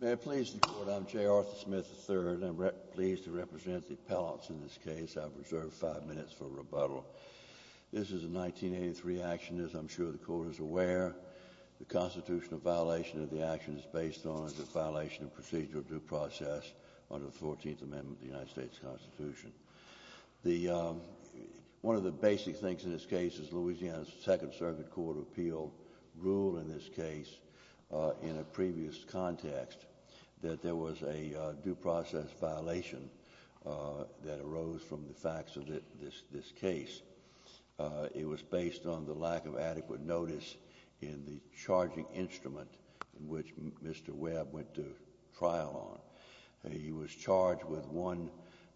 May I please the court, I'm J. Arthur Smith III. I'm pleased to represent the appellants in this case. I've reserved five minutes for rebuttal. This is a 1983 action, as I'm sure the court is aware. The constitutional violation of the action is based on a violation of procedural due process under the 14th Amendment of the United States Constitution. One of the basic things in this case is Louisiana's Second Circuit Court of Appeal ruled in this case in a previous context that there was a due process violation that arose from the facts of this case. It was based on the lack of adequate notice in the charging instrument in which Mr. Webb went to trial on. He was charged with one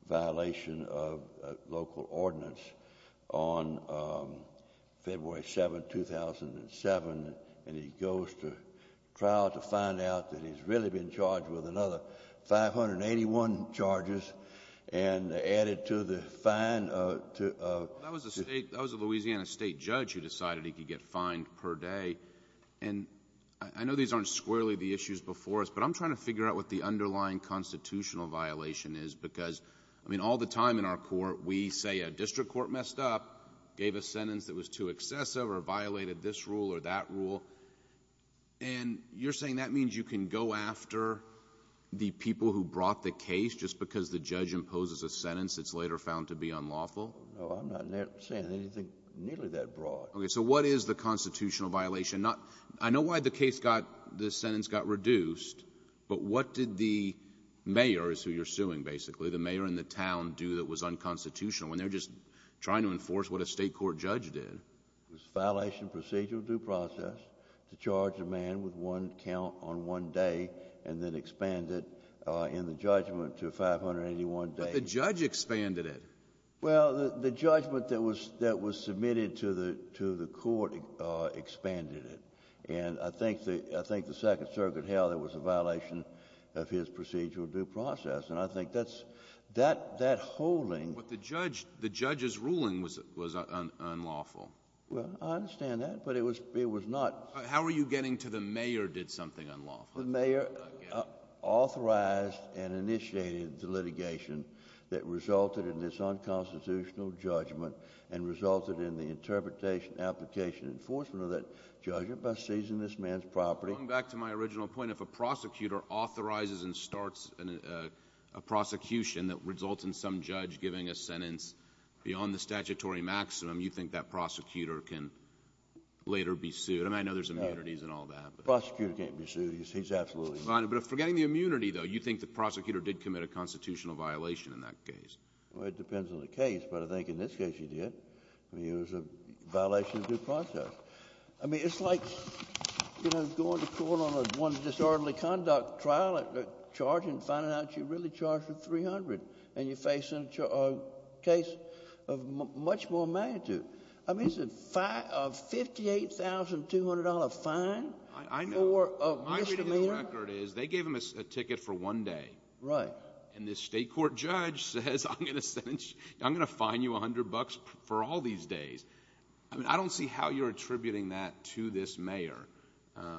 violation of local ordinance on February 7, 2007, and he goes to trial to find out that he's really been charged with another 581 charges and added to the fine. That was a Louisiana state judge who decided he could get fined per day. I know these aren't squarely the issues before us, but I'm trying to figure out what the underlying constitutional violation is. All the time in our court, we say a district court messed up, gave a sentence that was too excessive, or violated this rule or that rule. You're saying that means you can go after the people who brought the case just because the judge imposes a sentence that's later found to be unlawful? No, I'm not saying anything nearly that broad. What is the constitutional violation? I know why the sentence got reduced, but what did the mayor, who you're suing basically, the mayor and the town do that was unconstitutional when they're just trying to enforce what a state court judge did? It was a violation of procedural due process to charge a man with one count on one day and then expand it in the judgment to 581 days. But the judge expanded it. Well, the judgment that was submitted to the court expanded it. And I think the Second Circuit held it was a violation of his procedural due process, and I think that's — that holding — But the judge's ruling was unlawful. Well, I understand that, but it was not — How are you getting to the mayor did something unlawful? The mayor authorized and initiated the litigation that resulted in this unconstitutional judgment and resulted in the interpretation, application, enforcement of that judgment by seizing this man's property. Going back to my original point, if a prosecutor authorizes and starts a prosecution that results in some judge giving a sentence beyond the statutory maximum, you think that prosecutor can later be sued? I mean, I know there's immunities and all that, but — Prosecutor can't be sued. He's absolutely fine. But forgetting the immunity, though, you think the prosecutor did commit a constitutional violation in that case? Well, it depends on the case, but I think in this case he did. I mean, it was a violation of due process. I mean, it's like, you know, going to court on one disorderly conduct trial and charging and finding out you really charged with $300 and you're facing a case of much more magnitude. I mean, it's a $58,200 fine for a misdemeanor? I know. My reading of the record is they gave him a ticket for one day. Right. And this state court judge says, I'm going to fine you $100 for all these days. I mean, I don't see how you're attributing that to this mayor.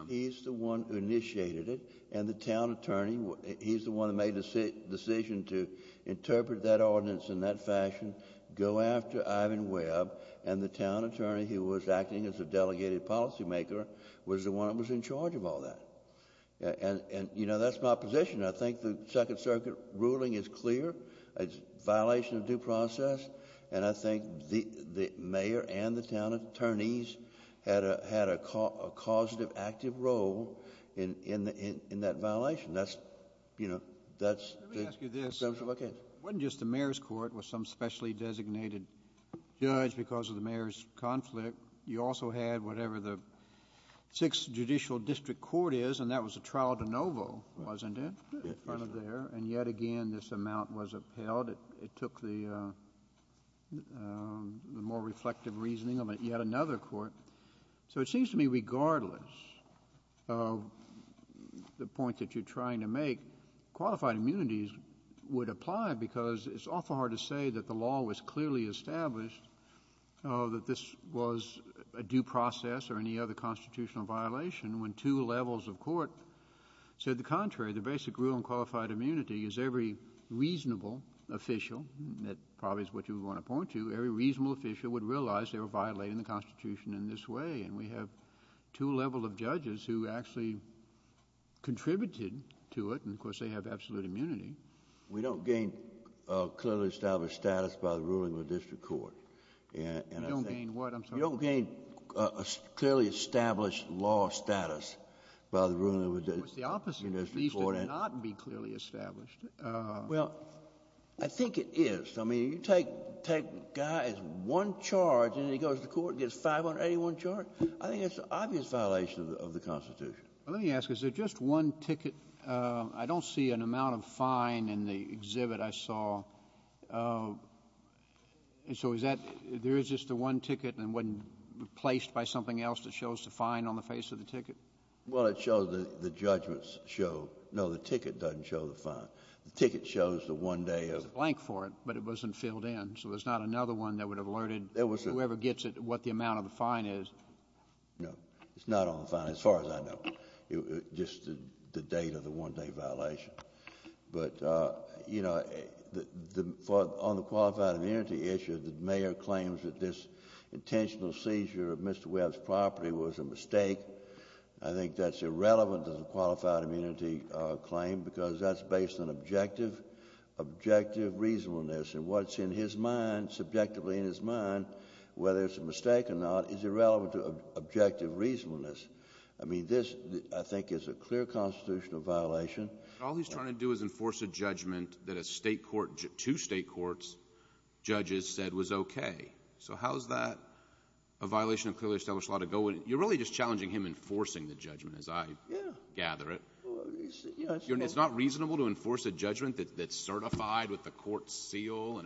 He's the one who initiated it. And the town attorney, he's the one who made the decision to interpret that ordinance in that fashion, go after Ivan Webb. And the town attorney who was acting as a delegated policymaker was the one who was in charge of all that. And, you know, that's my position. I think the Second Circuit ruling is clear. It's a violation of due process. And I think the mayor and the town attorneys had a causative active role in that violation. That's, you know... Let me ask you this. It wasn't just the mayor's court with some specially designated judge because of the mayor's conflict. You also had whatever the 6th Judicial District Court is, and that was a trial de novo, wasn't it, in front of there? And yet again, this amount was upheld. It took the more reflective reasoning of yet another court. So it seems to me regardless of the point that you're trying to make, qualified immunities would apply because it's awful hard to say that the law was clearly established, that this was a due process or any other constitutional violation, when two levels of court said the contrary. The basic rule in qualified immunity is every reasonable official. That probably is what you want to point to. Every reasonable official would realize they were violating the Constitution in this way. And we have two levels of judges who actually contributed to it. And, of course, they have absolute immunity. We don't gain clearly established status by the ruling of a district court. You don't gain what? I'm sorry. You don't gain clearly established law status by the ruling of a district court. Well, it's the opposite. These did not be clearly established. Well, I think it is. I mean, you take a guy as one charge, and then he goes to court and gets 581 charges, I think that's an obvious violation of the Constitution. Let me ask, is there just one ticket? I don't see an amount of fine in the exhibit I saw. And so is that, there is just the one ticket and it wasn't replaced by something else that shows the fine on the face of the ticket? Well, it shows the judgments show. No, the ticket doesn't show the fine. The ticket shows the one day of. There's a blank for it, but it wasn't filled in. So there's not another one that would have alerted whoever gets it what the amount of the fine is. No, it's not on the fine as far as I know. Just the date of the one-day violation. But, you know, on the qualified immunity issue, the mayor claims that this intentional seizure of Mr. Webb's property was a mistake. I think that's irrelevant to the qualified immunity claim because that's based on objective reasonableness. And what's in his mind, subjectively in his mind, whether it's a mistake or not, is irrelevant to objective reasonableness. I mean, this, I think, is a clear constitutional violation. All he's trying to do is enforce a judgment that a state court, two state courts, judges said was okay. So how is that a violation of clearly established law to go with? You're really just challenging him enforcing the judgment as I gather it. It's not reasonable to enforce a judgment that's certified with the court's seal.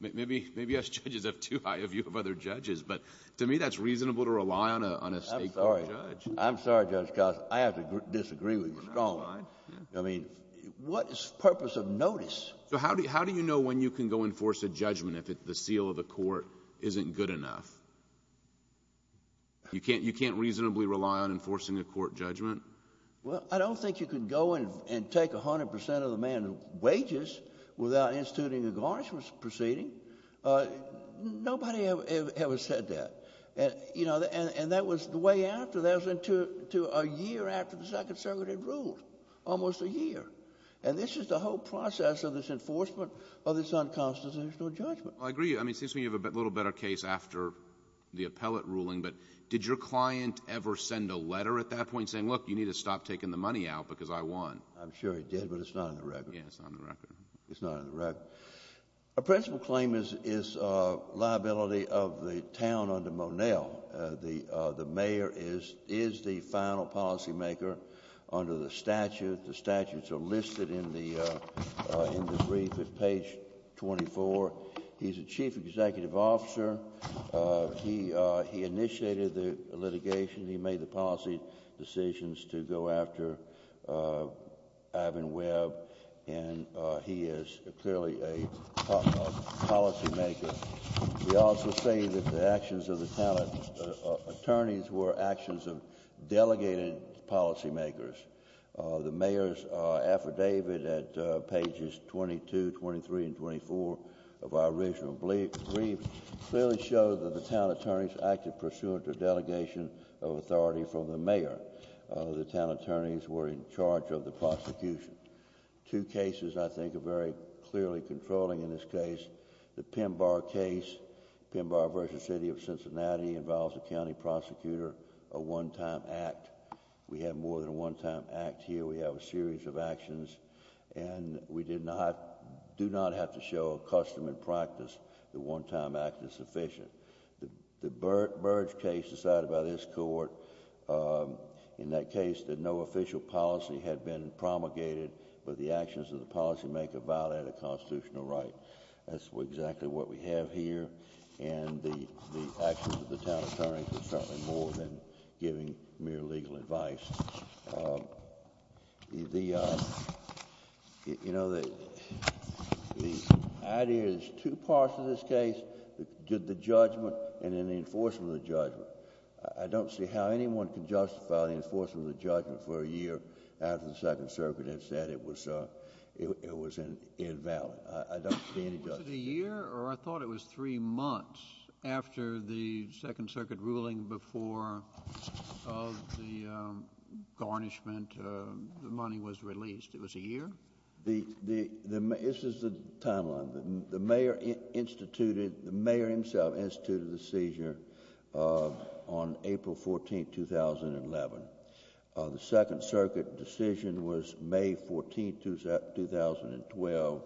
Maybe us judges have too high a view of other judges, but to me that's reasonable to rely on a state court judge. I'm sorry, Judge Costner, I have to disagree with you strongly. I mean, what is the purpose of notice? So how do you know when you can go enforce a judgment if the seal of the court isn't good enough? You can't reasonably rely on enforcing a court judgment? Well, I don't think you can go and take 100 percent of the man's wages without instituting a garnishment proceeding. Nobody ever said that. And that was the way after. That was a year after the Second Circuit had ruled, almost a year. And this is the whole process of this enforcement of this unconstitutional judgment. Well, I agree. I mean, it seems to me you have a little better case after the appellate ruling, but did your client ever send a letter at that point saying, look, you need to stop taking the money out because I won? I'm sure he did, but it's not in the record. It's not in the record. A principal claim is liability of the town under Monell. The mayor is the final policymaker under the statute. The statutes are listed in the brief at page 24. He's a chief executive officer. He initiated the litigation. He made the policy decisions to go after Ivan Webb. And he is clearly a policymaker. We also say that the actions of the town attorneys were actions of delegated policymakers. The mayor's affidavit at pages 22, 23, and 24 of our original brief clearly showed that the town attorneys acted pursuant to delegation of authority from the mayor. The town attorneys were in charge of the prosecution. Two cases I think are very clearly controlling in this case. The Pembar case, Pembar v. City of Cincinnati, involves a county prosecutor, a one-time act. We have more than a one-time act here. We have a series of actions. And we do not have to show a custom and practice that one-time act is sufficient. The Burge case decided by this court in that case that no official policy had been promulgated, but the actions of the policymaker violated a constitutional right. That's exactly what we have here. And the actions of the town attorneys were certainly more than giving mere legal advice. The idea is two parts of this case, the judgment and then the enforcement of the judgment. I don't see how anyone can justify the enforcement of the judgment for a year after the Second Circuit has said it was invalid. I don't see any judgment. Was it a year or I thought it was three months after the Second Circuit ruling before the garnishment money was released? It was a year? This is the timeline. The mayor instituted, the mayor himself instituted the seizure on April 14, 2011. The Second Circuit decision was May 14, 2012.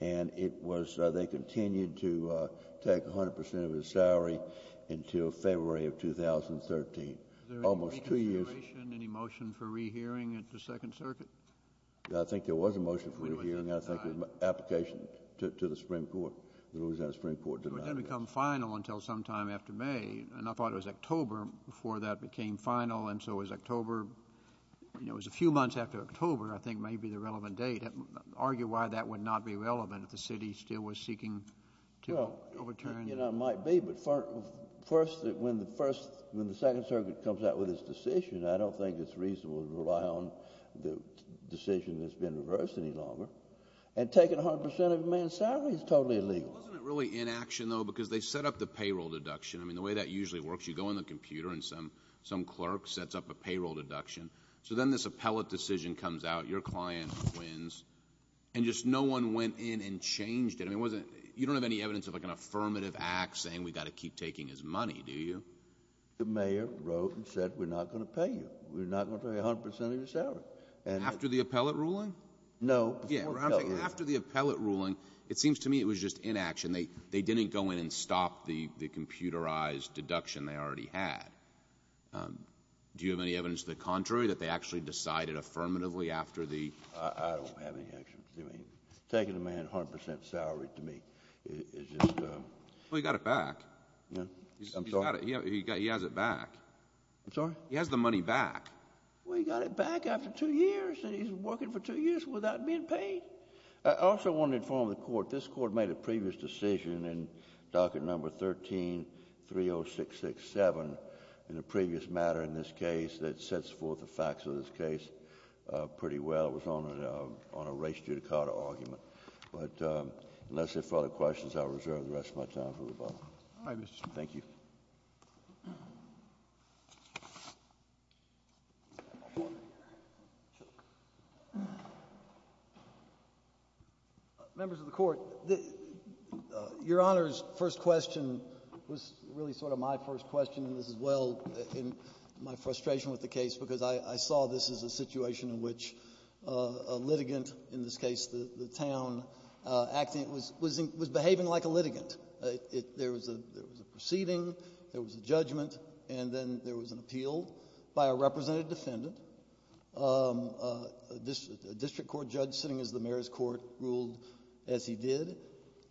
And it was, they continued to take 100% of his salary until February of 2013. Almost two years. Was there any reconsideration, any motion for rehearing at the Second Circuit? I think there was a motion for rehearing. I think it was an application to the Supreme Court. The Louisiana Supreme Court denied it. It would then become final until sometime after May, and I thought it was October before that became final. And so it was October, you know, it was a few months after October, I think, may be the relevant date. Argue why that would not be relevant if the city still was seeking to overturn. It might be, but first, when the Second Circuit comes out with its decision, I don't think it's reasonable to rely on the decision that's been reversed any longer. And taking 100% of a man's salary is totally illegal. Wasn't it really inaction, though, because they set up the payroll deduction. I mean, the way that usually works, you go in the computer and some clerk sets up a payroll deduction. So then this appellate decision comes out, your client wins, and just no one went in and changed it. I mean, you don't have any evidence of like an affirmative act saying we've got to keep taking his money, do you? The mayor wrote and said we're not going to pay you. We're not going to pay 100% of your salary. After the appellate ruling? No. After the appellate ruling, it seems to me it was just inaction. They didn't go in and stop the computerized deduction they already had. Do you have any evidence to the contrary, that they actually decided affirmatively after the... I don't have any evidence. I mean, taking a man's 100% salary to me is just... Well, he got it back. I'm sorry? He has it back. I'm sorry? He has the money back. Well, he got it back after two years, and he's working for two years without being paid. I also want to inform the Court, this Court made a previous decision in docket number 13-30667 in a previous matter in this case that sets forth the facts of this case pretty well. It was on a race judicata argument. But unless there are further questions, I'll reserve the rest of my time for rebuttal. All right, Mr. Smith. Thank you. Members of the Court, your Honor's first question was really sort of my first question, and this is well in my frustration with the case, because I saw this as a situation in which a litigant, in this case the town acting, was behaving like a litigant. There was a proceeding, there was a judgment, and then there was an appeal by a representative defendant, a district court judge sitting as the mayor's court ruled as he did.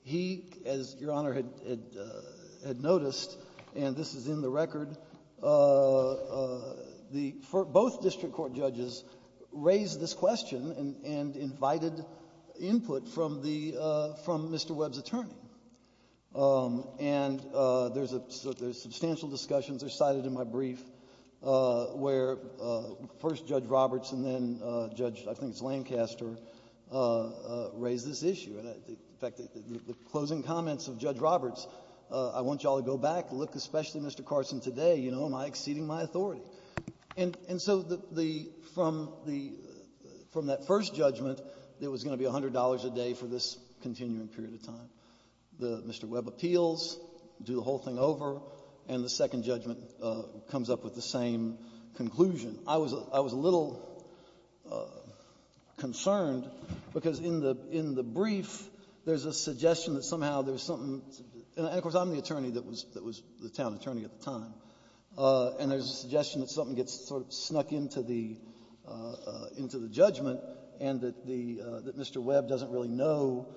He, as your Honor had noticed, and this is in the record, both district court judges raised this question and invited input from Mr. Webb's attorney. And there's substantial discussions, they're cited in my brief, where first Judge Roberts and then Judge, I think it's Lancaster, raised this issue. In fact, the closing comments of Judge Roberts, I want you all to go back and look, especially Mr. Carson today, and so from that first judgment, there was going to be $100 a day for this continuing period of time. Mr. Webb appeals, do the whole thing over, and the second judgment comes up with the same conclusion. I was a little concerned, because in the brief there's a suggestion that somehow there's something, and of course I'm the attorney that was the town attorney at the time, and there's a suggestion that something gets sort of snuck into the judgment and that Mr. Webb doesn't really know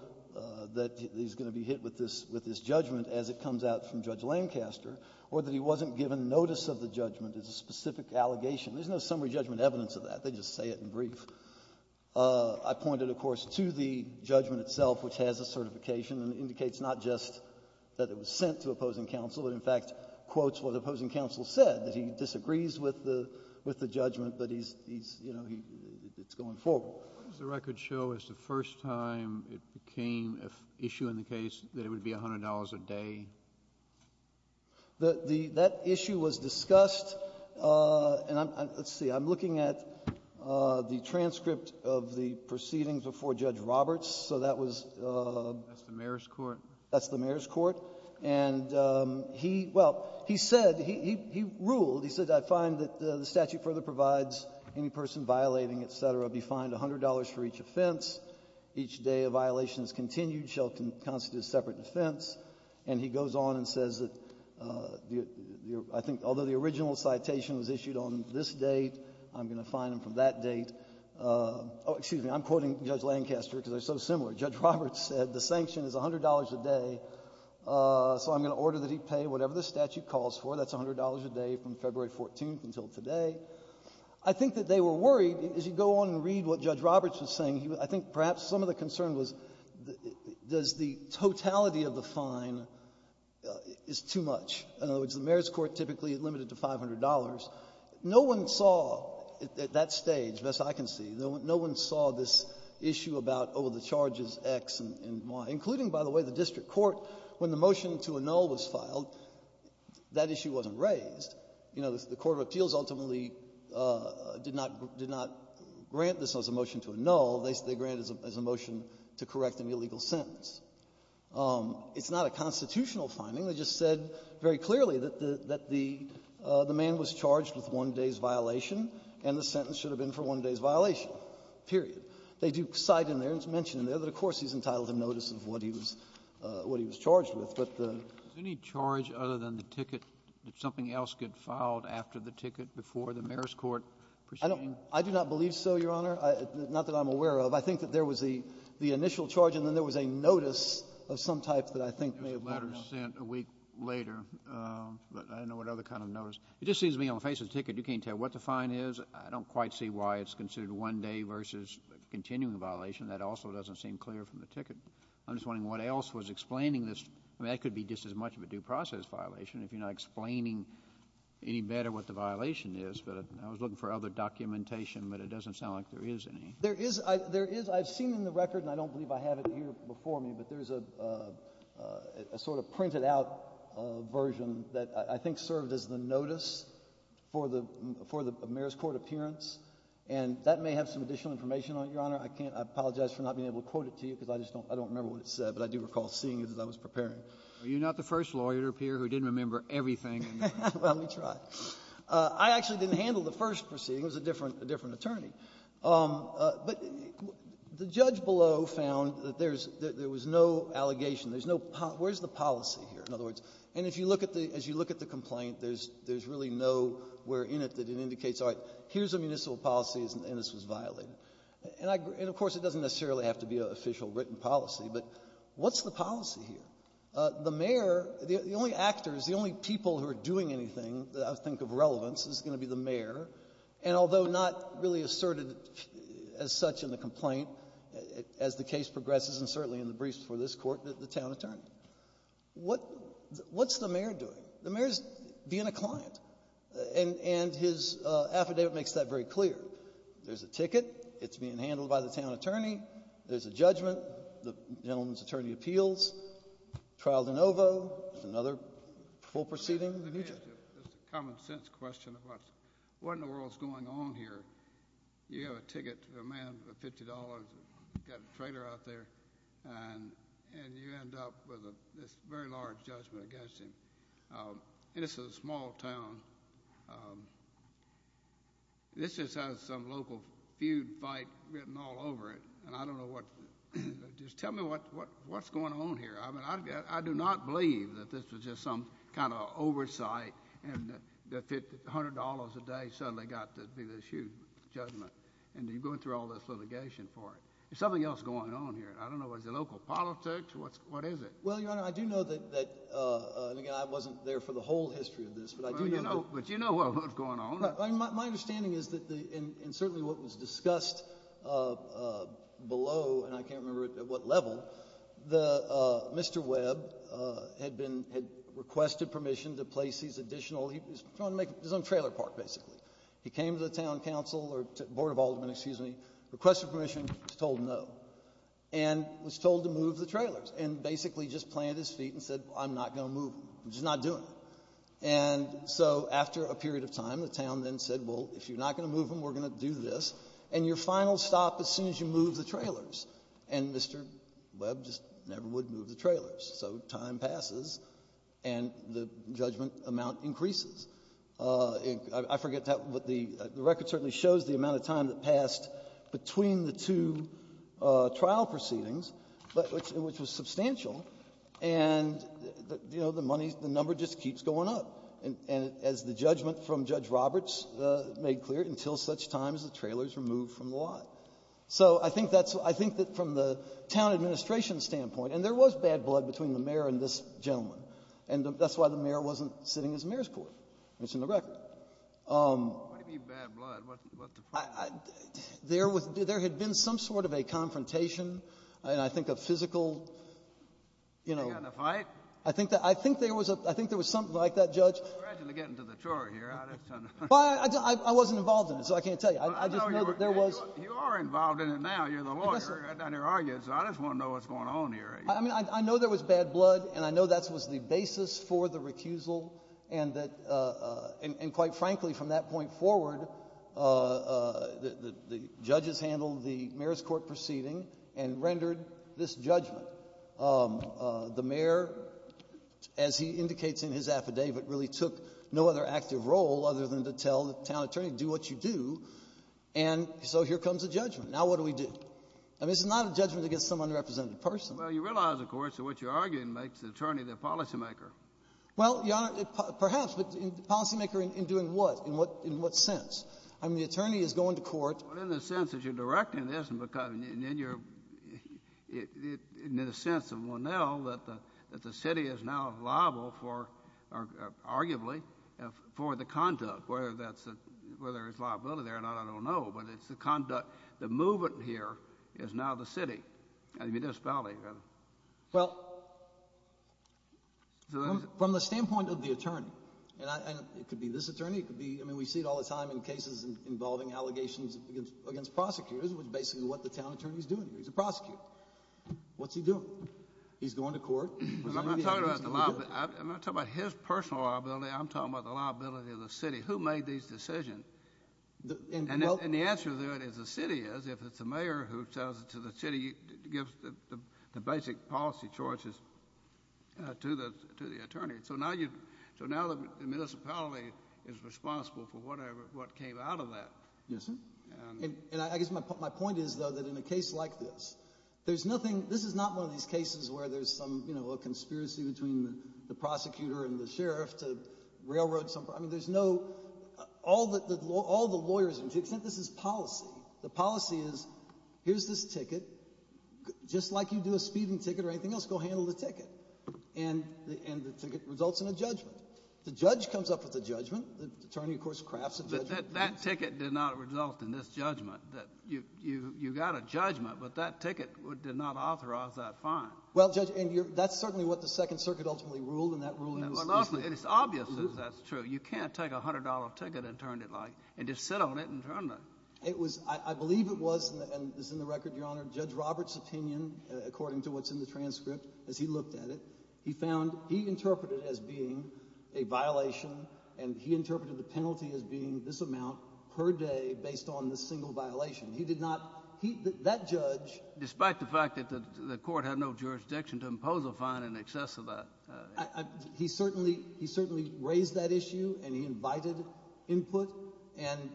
that he's going to be hit with this judgment as it comes out from Judge Lancaster, or that he wasn't given notice of the judgment as a specific allegation. There's no summary judgment evidence of that. They just say it in brief. I pointed, of course, to the judgment itself, which has a certification and indicates not just that it was sent to opposing counsel, but in fact quotes what opposing counsel said, that he disagrees with the judgment, but he's, you know, it's going forward. What does the record show as the first time it became an issue in the case that it would be $100 a day? That issue was discussed, and let's see. I'm looking at the transcript of the proceedings before Judge Roberts. That's the mayor's court. That's the mayor's court. And he, well, he said, he ruled, he said, I find that the statute further provides any person violating, et cetera, be fined $100 for each offense. Each day a violation is continued shall constitute a separate offense. And he goes on and says that I think although the original citation was issued on this date, I'm going to fine him from that date. Oh, excuse me. I'm quoting Judge Lancaster because they're so similar. Judge Roberts said the sanction is $100 a day, so I'm going to order that he pay whatever the statute calls for. That's $100 a day from February 14th until today. I think that they were worried, as you go on and read what Judge Roberts was saying, I think perhaps some of the concern was does the totality of the fine is too much. In other words, the mayor's court typically limited to $500. No one saw at that stage, best I can see, no one saw this issue about, oh, the charge is X and Y. Including, by the way, the district court, when the motion to annul was filed, that issue wasn't raised. You know, the court of appeals ultimately did not grant this as a motion to annul. They granted it as a motion to correct an illegal sentence. It's not a constitutional finding. They just said very clearly that the man was charged with one day's violation, and the sentence should have been for one day's violation, period. They do cite in there and mention in there that, of course, he's entitled to notice of what he was charged with. But the — Any charge other than the ticket, did something else get filed after the ticket before the mayor's court proceeding? I do not believe so, Your Honor. Not that I'm aware of. I think that there was the initial charge, and then there was a notice of some type that I think may have gone wrong. There was a letter sent a week later, but I don't know what other kind of notice. It just seems to me on the face of the ticket, you can't tell what the fine is. I don't quite see why it's considered a one-day versus continuing violation. That also doesn't seem clear from the ticket. I'm just wondering what else was explaining this. I mean, that could be just as much of a due process violation if you're not explaining any better what the violation is. But I was looking for other documentation, but it doesn't sound like there is any. There is — I've seen in the record, and I don't believe I have it here before me, but there is a sort of printed-out version that I think served as the notice for the mayor's court appearance. And that may have some additional information on it, Your Honor. I apologize for not being able to quote it to you, because I just don't remember what it said. But I do recall seeing it as I was preparing. Are you not the first lawyer up here who didn't remember everything? Well, let me try. I actually didn't handle the first proceeding. It was a different attorney. But the judge below found that there's — there was no allegation. There's no — where's the policy here, in other words? And if you look at the — as you look at the complaint, there's really no where in it that it indicates, all right, here's a municipal policy, and this was violated. And I — and, of course, it doesn't necessarily have to be an official written policy, but what's the policy here? The mayor — the only actors, the only people who are doing anything that I think of relevance is going to be the mayor. And although not really asserted as such in the complaint, as the case progresses, and certainly in the briefs before this Court, the town attorney. What's the mayor doing? The mayor's being a client. And his affidavit makes that very clear. There's a ticket. It's being handled by the town attorney. There's a judgment. The gentleman's attorney appeals. Trial de novo. Another full proceeding. It's a common-sense question of what in the world's going on here. You have a ticket to a man for $50, got a trailer out there, and you end up with this very large judgment against him. And it's a small town. This just has some local feud fight written all over it, and I don't know what — just tell me what's going on here. I mean, I do not believe that this was just some kind of oversight and that $100 a day suddenly got to be this huge judgment, and you're going through all this litigation for it. There's something else going on here. I don't know. Is it local politics? What is it? Well, Your Honor, I do know that — and, again, I wasn't there for the whole history of this, but I do know — But you know what was going on. My understanding is that the — and certainly what was discussed below, and I can't remember at what level, Mr. Webb had been — had requested permission to place these additional — he was trying to make his own trailer park, basically. He came to the town council or board of aldermen, excuse me, requested permission, was told no, and was told to move the trailers and basically just planted his feet and said, I'm not going to move them. I'm just not doing it. And so after a period of time, the town then said, well, if you're not going to move them, we're going to do this, and your final stop as soon as you move the trailers. And Mr. Webb just never would move the trailers. So time passes, and the judgment amount increases. I forget what the — the record certainly shows the amount of time that passed between the two trial proceedings, but — which was substantial, and, you know, the money — the number just keeps going up, as the judgment from Judge Roberts made clear, until such time as the trailer is removed from the lot. So I think that's — I think that from the town administration standpoint — and there was bad blood between the mayor and this gentleman, and that's why the mayor wasn't sitting as mayor's court. It's in the record. Kennedy. What do you mean bad blood? There was — there had been some sort of a confrontation, and I think a physical, you know — You had a fight? I think that — I think there was a — I think there was something like that, Judge. I'm glad you're getting to the chore here. Well, I wasn't involved in it, so I can't tell you. I just know that there was — You are involved in it now. You're the lawyer. I just want to know what's going on here. I mean, I know there was bad blood, and I know that was the basis for the recusal, and that — and quite frankly, from that point forward, the judges handled the mayor's court proceeding and rendered this judgment. The mayor, as he indicates in his affidavit, really took no other active role other than to tell the town attorney, do what you do, and so here comes a judgment. Now what do we do? I mean, this is not a judgment against some underrepresented person. Well, you realize, of course, that what you're arguing makes the attorney the policymaker. Well, Your Honor, perhaps. But policymaker in doing what? In what sense? I mean, the attorney is going to court — Well, in the sense that you're directing this, and because — and then you're — in the sense of Monell, that the city is now liable for — arguably for the conduct, whether that's — whether it's liability there or not, I don't know. But it's the conduct. The movement here is now the city and the municipality. Well, from the standpoint of the attorney, and it could be this attorney. It could be — I mean, we see it all the time in cases involving allegations against prosecutors, which is basically what the town attorney is doing here. He's a prosecutor. What's he doing? He's going to court. I'm not talking about the liability. I'm not talking about his personal liability. I'm talking about the liability of the city. Who made these decisions? And the answer to that is the city is. If it's the mayor who tells it to the city, he gives the basic policy choices to the attorney. So now you — so now the municipality is responsible for whatever — what came out of that. Yes, sir. And I guess my point is, though, that in a case like this, there's nothing — this is not one of these cases where there's some, you know, a conspiracy between the prosecutor and the sheriff to railroad some — I mean, there's no — all the lawyers are — to the extent this is policy, the policy is, here's this ticket. Just like you do a speeding ticket or anything else, go handle the ticket. And the ticket results in a judgment. The judge comes up with a judgment. The attorney, of course, crafts a judgment. But that ticket did not result in this judgment. You got a judgment, but that ticket did not authorize that fine. Well, Judge, and that's certainly what the Second Circuit ultimately ruled, and that ruling was — Well, and it's obvious that that's true. You can't take a $100 ticket and turn it like — and just sit on it and turn it. It was — I believe it was, and this is in the record, Your Honor, Judge Roberts' opinion, according to what's in the transcript, as he looked at it, he found — he interpreted it as being a violation, and he interpreted the penalty as being this amount per day based on this single violation. He did not — that judge — Despite the fact that the court had no jurisdiction to impose a fine in excess of that. He certainly — he certainly raised that issue, and he invited input, and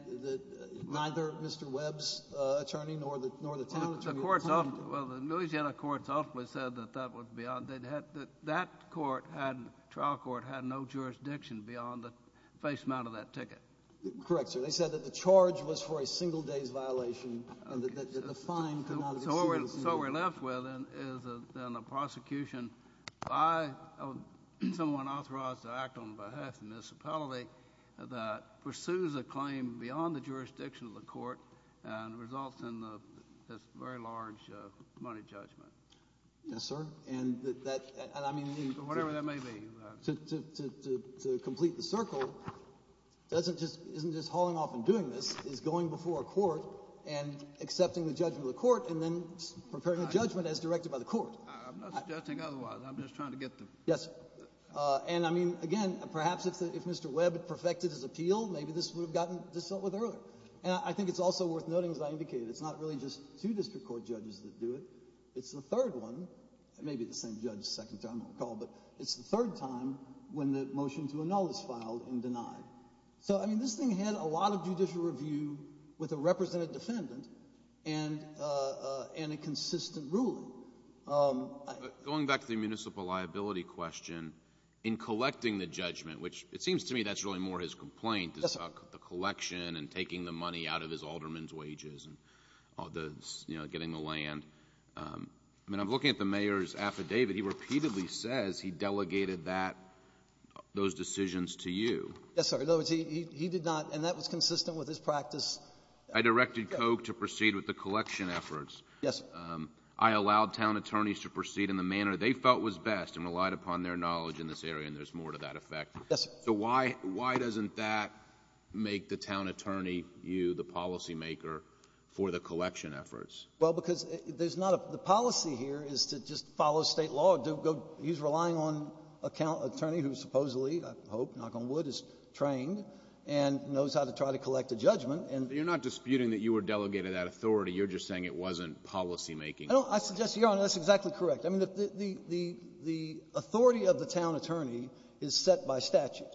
neither Mr. Webb's attorney nor the town attorney — Well, the courts — well, the Louisiana courts ultimately said that that was beyond — that that court had — trial court had no jurisdiction beyond the face amount of that ticket. Correct, sir. They said that the charge was for a single day's violation, and that the fine could not exceed — So what we're left with is then a prosecution by someone authorized to act on behalf of the municipality that pursues a claim beyond the jurisdiction of the court and results in this very large money judgment. Yes, sir, and that — and I mean — Whatever that may be. To complete the circle isn't just hauling off and doing this. It's going before a court and accepting the judgment of the court and then preparing a judgment as directed by the court. I'm not suggesting otherwise. I'm just trying to get the — Yes, sir. And I mean, again, perhaps if Mr. Webb had perfected his appeal, maybe this would have gotten dealt with earlier. And I think it's also worth noting, as I indicated, it's not really just two district court judges that do it. It's the third one — it may be the same judge the second time on the call, but it's the third time when the motion to annul is filed and denied. So, I mean, this thing had a lot of judicial review with a represented defendant and a consistent ruling. Going back to the municipal liability question, in collecting the judgment, which it seems to me that's really more his complaint. Yes, sir. The collection and taking the money out of his alderman's wages and getting the land. I mean, I'm looking at the mayor's affidavit. He repeatedly says he delegated that — those decisions to you. Yes, sir. In other words, he did not — and that was consistent with his practice. I directed Koch to proceed with the collection efforts. Yes, sir. I allowed town attorneys to proceed in the manner they felt was best and relied upon their knowledge in this area, and there's more to that effect. Yes, sir. So why doesn't that make the town attorney, you, the policymaker, for the collection efforts? Well, because there's not a — the policy here is to just follow state law. He's relying on an attorney who is supposedly, I hope, knock on wood, is trained and knows how to try to collect a judgment and — But you're not disputing that you were delegated that authority. You're just saying it wasn't policymaking. I suggest, Your Honor, that's exactly correct. I mean, the authority of the town attorney is set by statute.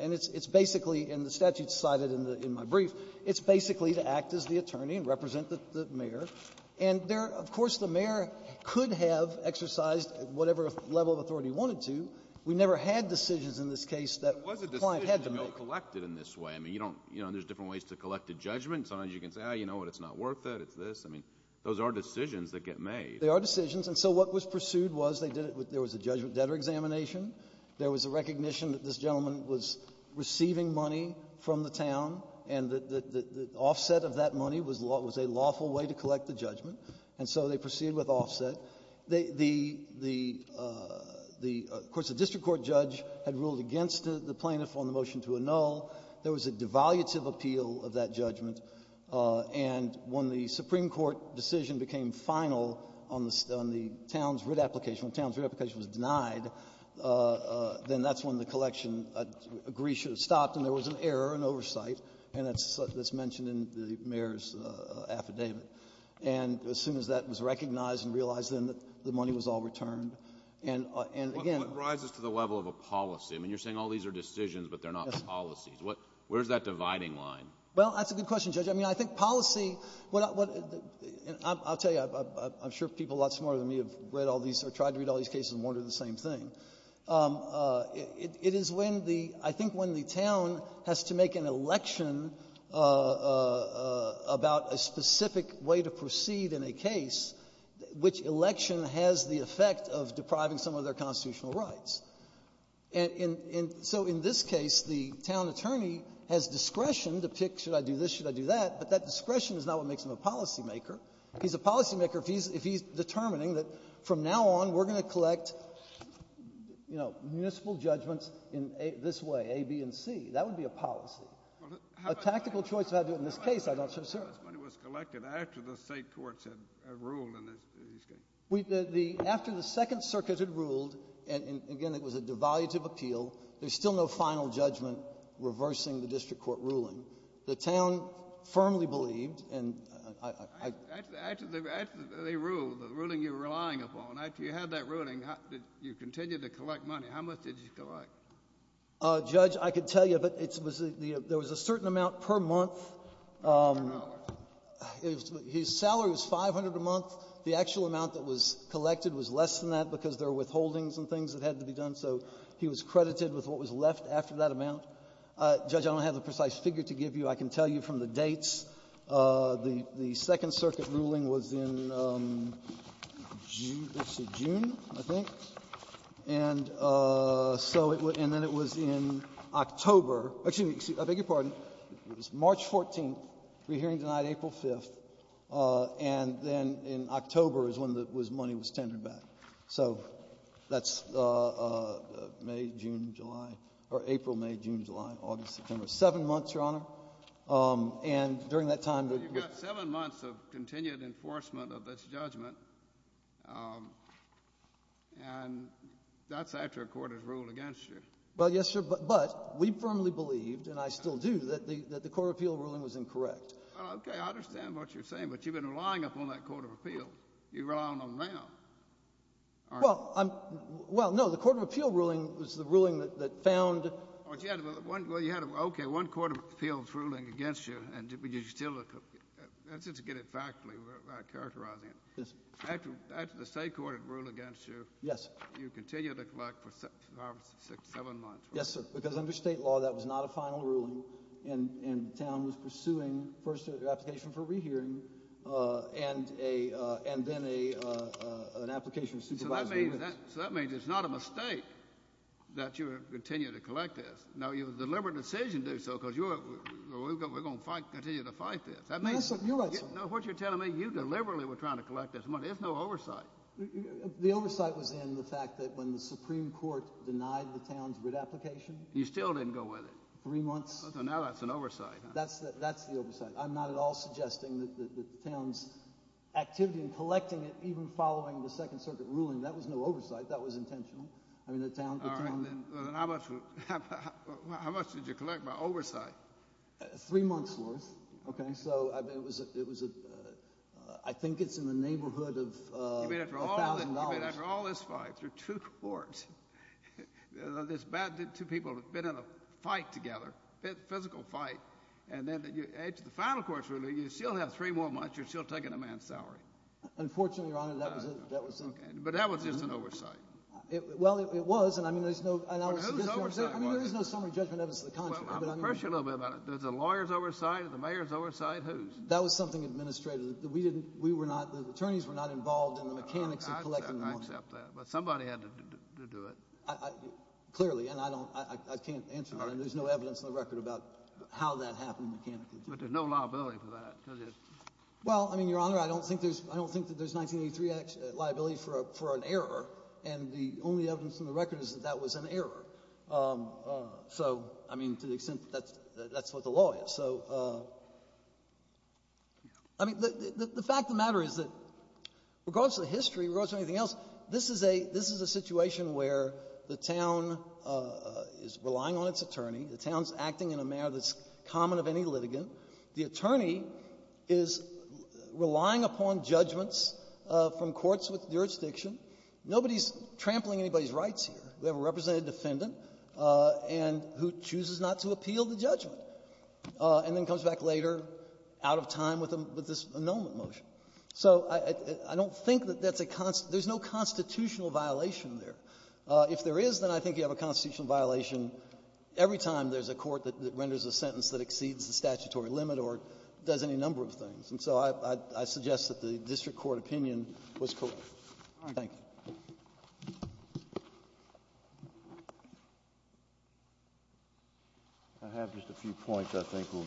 And it's basically — and the statute is cited in my brief. It's basically to act as the attorney and represent the mayor. And there — of course, the mayor could have exercised whatever level of authority he wanted to. We never had decisions in this case that a client had to make. But it was a decision to be collected in this way. I mean, you don't — you know, there's different ways to collect a judgment. Sometimes you can say, oh, you know what, it's not worth it, it's this. I mean, those are decisions that get made. They are decisions. And so what was pursued was they did it with — there was a judgment debtor examination. There was a recognition that this gentleman was receiving money from the town, and the offset of that money was a lawful way to collect the judgment. And so they proceeded with offset. The — of course, the district court judge had ruled against the plaintiff on the motion to annul. There was a devaluative appeal of that judgment. And when the Supreme Court decision became final on the town's writ application, when the town's writ application was denied, then that's when the collection agreed should have stopped, and there was an error in oversight. And that's mentioned in the mayor's affidavit. And as soon as that was recognized and realized, then the money was all returned. And again — But what rises to the level of a policy? I mean, you're saying all these are decisions, but they're not policies. Where's that dividing line? Well, that's a good question, Judge. I mean, I think policy — I'll tell you, I'm sure people a lot smarter than me have read all these or tried to read all these cases and wondered the same thing. It is when the — I think when the town has to make an election about a specific way to proceed in a case, which election has the effect of depriving some of their constitutional rights. And so in this case, the town attorney has discretion to pick, should I do this, should I do that, but that discretion is not what makes him a policymaker. He's a policymaker if he's determining that from now on, we're going to collect, you know, municipal judgments in this way, A, B, and C. That would be a policy. Well, how about — A tactical choice if I do it in this case, I'm not so sure. But this money was collected after the state courts had ruled in this case. After the Second Circuit had ruled, and again, it was a divulative appeal, there's still no final judgment reversing the district court ruling. The town firmly believed, and I — After they ruled, the ruling you're relying upon, after you had that ruling, did you continue to collect money? How much did you collect? Judge, I could tell you, but it was — there was a certain amount per month. His salary was 500 a month. The actual amount that was collected was less than that because there were withholdings and things that had to be done. So he was credited with what was left after that amount. Judge, I don't have the precise figure to give you. I can tell you from the dates. The Second Circuit ruling was in June, I think. And so it was — and then it was in October. Excuse me. I beg your pardon. It was March 14th. We're hearing tonight April 5th. And then in October is when the money was tendered back. So that's May, June, July, or April, May, June, July, August, September. Seven months, Your Honor. And during that time — You've got seven months of continued enforcement of this judgment. And that's after a court has ruled against you. Well, yes, sir. But we firmly believed, and I still do, that the Court of Appeal ruling was incorrect. Okay. I understand what you're saying. But you've been relying upon that Court of Appeal. You rely on them now. Well, no. The Court of Appeal ruling was the ruling that found — Well, you had — okay, one Court of Appeal's ruling against you, and you still — just to get it factually, without characterizing it. Yes. After the state court had ruled against you — Yes. — you continued to collect for five, six, seven months, right? Yes, sir. Because under state law, that was not a final ruling, and the town was pursuing first an application for a rehearing and then an application to supervise — So that means it's not a mistake that you continue to collect this. Now, your deliberate decision to do so because you're — we're going to continue to fight this. That means — You're right, sir. No, what you're telling me, you deliberately were trying to collect this money. There's no oversight. The oversight was in the fact that when the Supreme Court denied the town's writ application — You still didn't go with it. — three months. So now that's an oversight, huh? That's the oversight. I'm not at all suggesting that the town's activity in collecting it, even following the Second Circuit ruling, that was no oversight. That was intentional. I mean, the town — All right. Then how much did you collect by oversight? Three months' worth. OK? So it was a — I think it's in the neighborhood of $1,000. You mean after all this fight, through two courts? It's bad that two people have been in a fight together, a physical fight, and then you add to the final court's ruling, you still have three more months, you're still taking a man's salary. Unfortunately, Your Honor, that was in — OK. But that was just an oversight. Well, it was, and I mean, there's no — But whose oversight was it? I mean, there is no summary judgment of it to the contrary. Well, I'm going to pressure you a little bit about it. There's a lawyer's oversight, there's a mayor's oversight. Whose? We didn't — we were not — the attorneys were not involved in the mechanics of collecting the money. I accept that. But somebody had to do it. Clearly, and I don't — I can't answer that, and there's no evidence on the record about how that happened mechanically. But there's no liability for that, because it's — Well, I mean, Your Honor, I don't think there's — I don't think that there's 1983 liability for an error, and the only evidence on the record is that that was an error. So, I mean, to the extent that that's what the law is. So, I mean, the fact of the matter is that, regardless of the history, regardless of anything else, this is a — this is a situation where the town is relying on its attorney, the town's acting in a manner that's common of any litigant. The attorney is relying upon judgments from courts with jurisdiction. Nobody's trampling anybody's rights here. We have a representative defendant, and — who chooses not to appeal the judgment, and then comes back later out of time with this annulment motion. So I don't think that that's a — there's no constitutional violation there. If there is, then I think you have a constitutional violation every time there's a court that renders a sentence that exceeds the statutory limit or does any number of things. And so I suggest that the district court opinion was correct. Thank you. I have just a few points I think will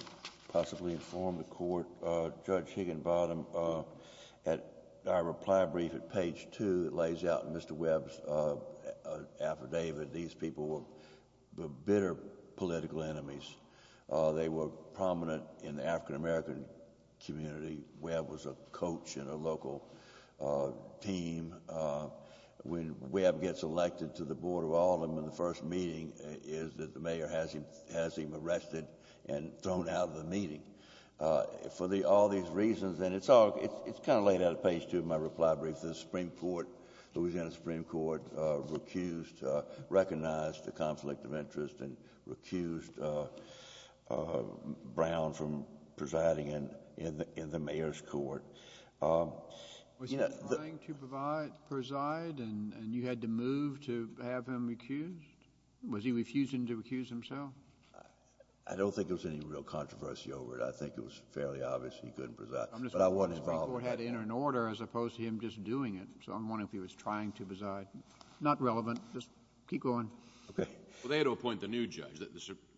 possibly inform the court. Judge Higginbottom, at our reply brief at page two, it lays out in Mr. Webb's affidavit these people were bitter political enemies. They were prominent in the African-American community. Mr. Webb was a coach in a local team. When Webb gets elected to the Board of Aldermen, the first meeting is that the mayor has him arrested and thrown out of the meeting for all these reasons. And it's all — it's kind of laid out at page two of my reply brief. The Supreme Court, Louisiana Supreme Court, recused — recognized the conflict of interest and recused Brown from presiding in the mayor's court. Was he trying to preside and you had to move to have him recused? Was he refusing to recuse himself? I don't think there was any real controversy over it. I think it was fairly obvious he couldn't preside. I'm just wondering if the Supreme Court had to enter an order as opposed to him just doing it. So I'm wondering if he was trying to preside. Not relevant. Just keep going. Okay. Well, they had to appoint the new judge.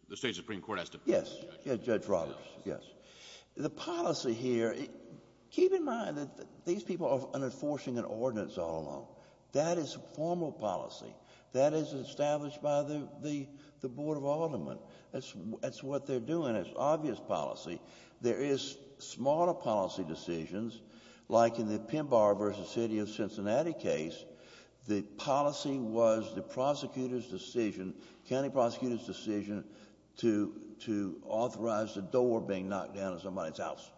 The state Supreme Court has to appoint a judge. Yes. Judge Roberts. Yes. The policy here — keep in mind that these people are enforcing an ordinance all along. That is formal policy. That is established by the Board of Aldermen. That's what they're doing. It's obvious policy. There is smaller policy decisions, like in the Pinbar v. City of Cincinnati case. The policy was the prosecutor's decision, county prosecutor's decision, to authorize the door being knocked down in somebody's house.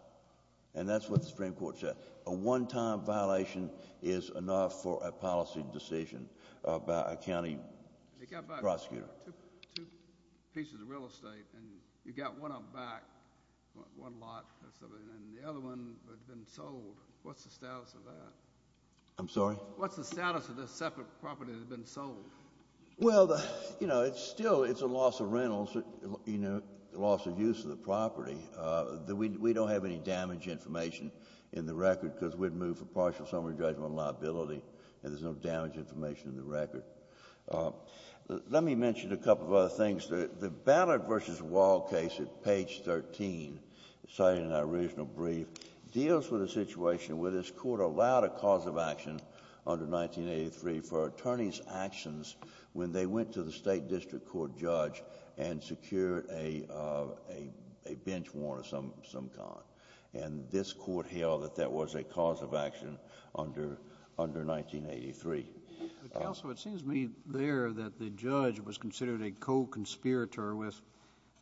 And that's what the Supreme Court said. A one-time violation is enough for a policy decision by a county prosecutor. They got back two pieces of real estate. And you got one up back, one lot, and the other one had been sold. What's the status of that? I'm sorry? What's the status of the separate property that had been sold? Well, you know, it's still — it's a loss of rentals, you know, loss of use of the property. We don't have any damage information in the record, because we'd move for partial summary judgment on liability, and there's no damage information in the record. Let me mention a couple of other things. The Ballard v. Wall case at page 13, cited in our original brief, deals with a situation where this court allowed a cause of action under 1983 for attorneys' actions when they went to the state district court judge and secured a bench warrant of some kind. And this court held that that was a cause of action under 1983. Counsel, it seems to me there that the judge was considered a co-conspirator with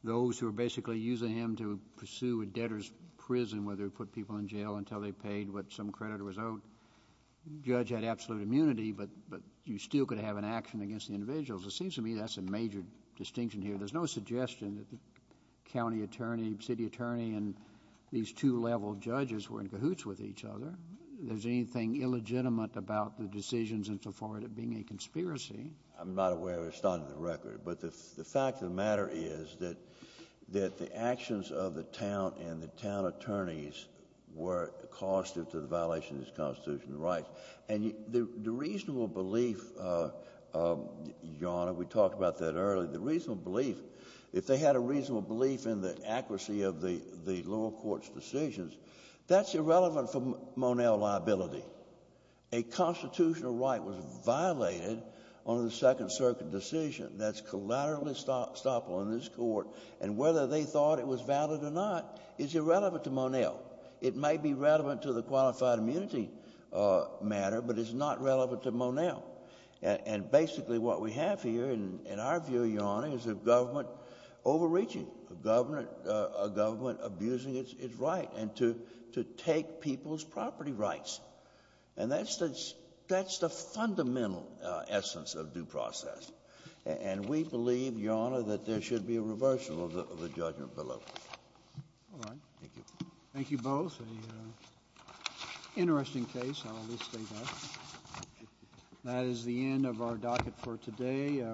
those who were basically using him to pursue a debtor's prison, whether he put people in jail until they paid what some creditor was owed. The judge had absolute immunity, but you still could have an action against the individuals. It seems to me that's a major distinction here. There's no suggestion that the county attorney, city attorney, and these two level judges were in cahoots with each other. There's anything illegitimate about the decisions and so forth being a conspiracy. I'm not aware of the start of the record, but the fact of the matter is that the actions of the town and the town attorneys were causative to the violation of these constitutional rights. And the reasonable belief, Your Honor, we talked about that earlier, the reasonable belief, if they had a reasonable belief in the accuracy of the lower court's decisions, that's irrelevant for Monell liability. A constitutional right was violated under the Second Circuit decision. That's collateral estoppel in this court. And whether they thought it was valid or not is irrelevant to Monell. It may be relevant to the qualified immunity matter, but it's not relevant to Monell. And basically what we have here, in our view, Your Honor, is a government overreaching, a government abusing its right to take people's property rights. And that's the fundamental essence of due process. And we believe, Your Honor, that there should be a reversal of the judgment below. All right. Thank you. Thank you both. An interesting case. I'll at least state that. That is the end of our docket for today.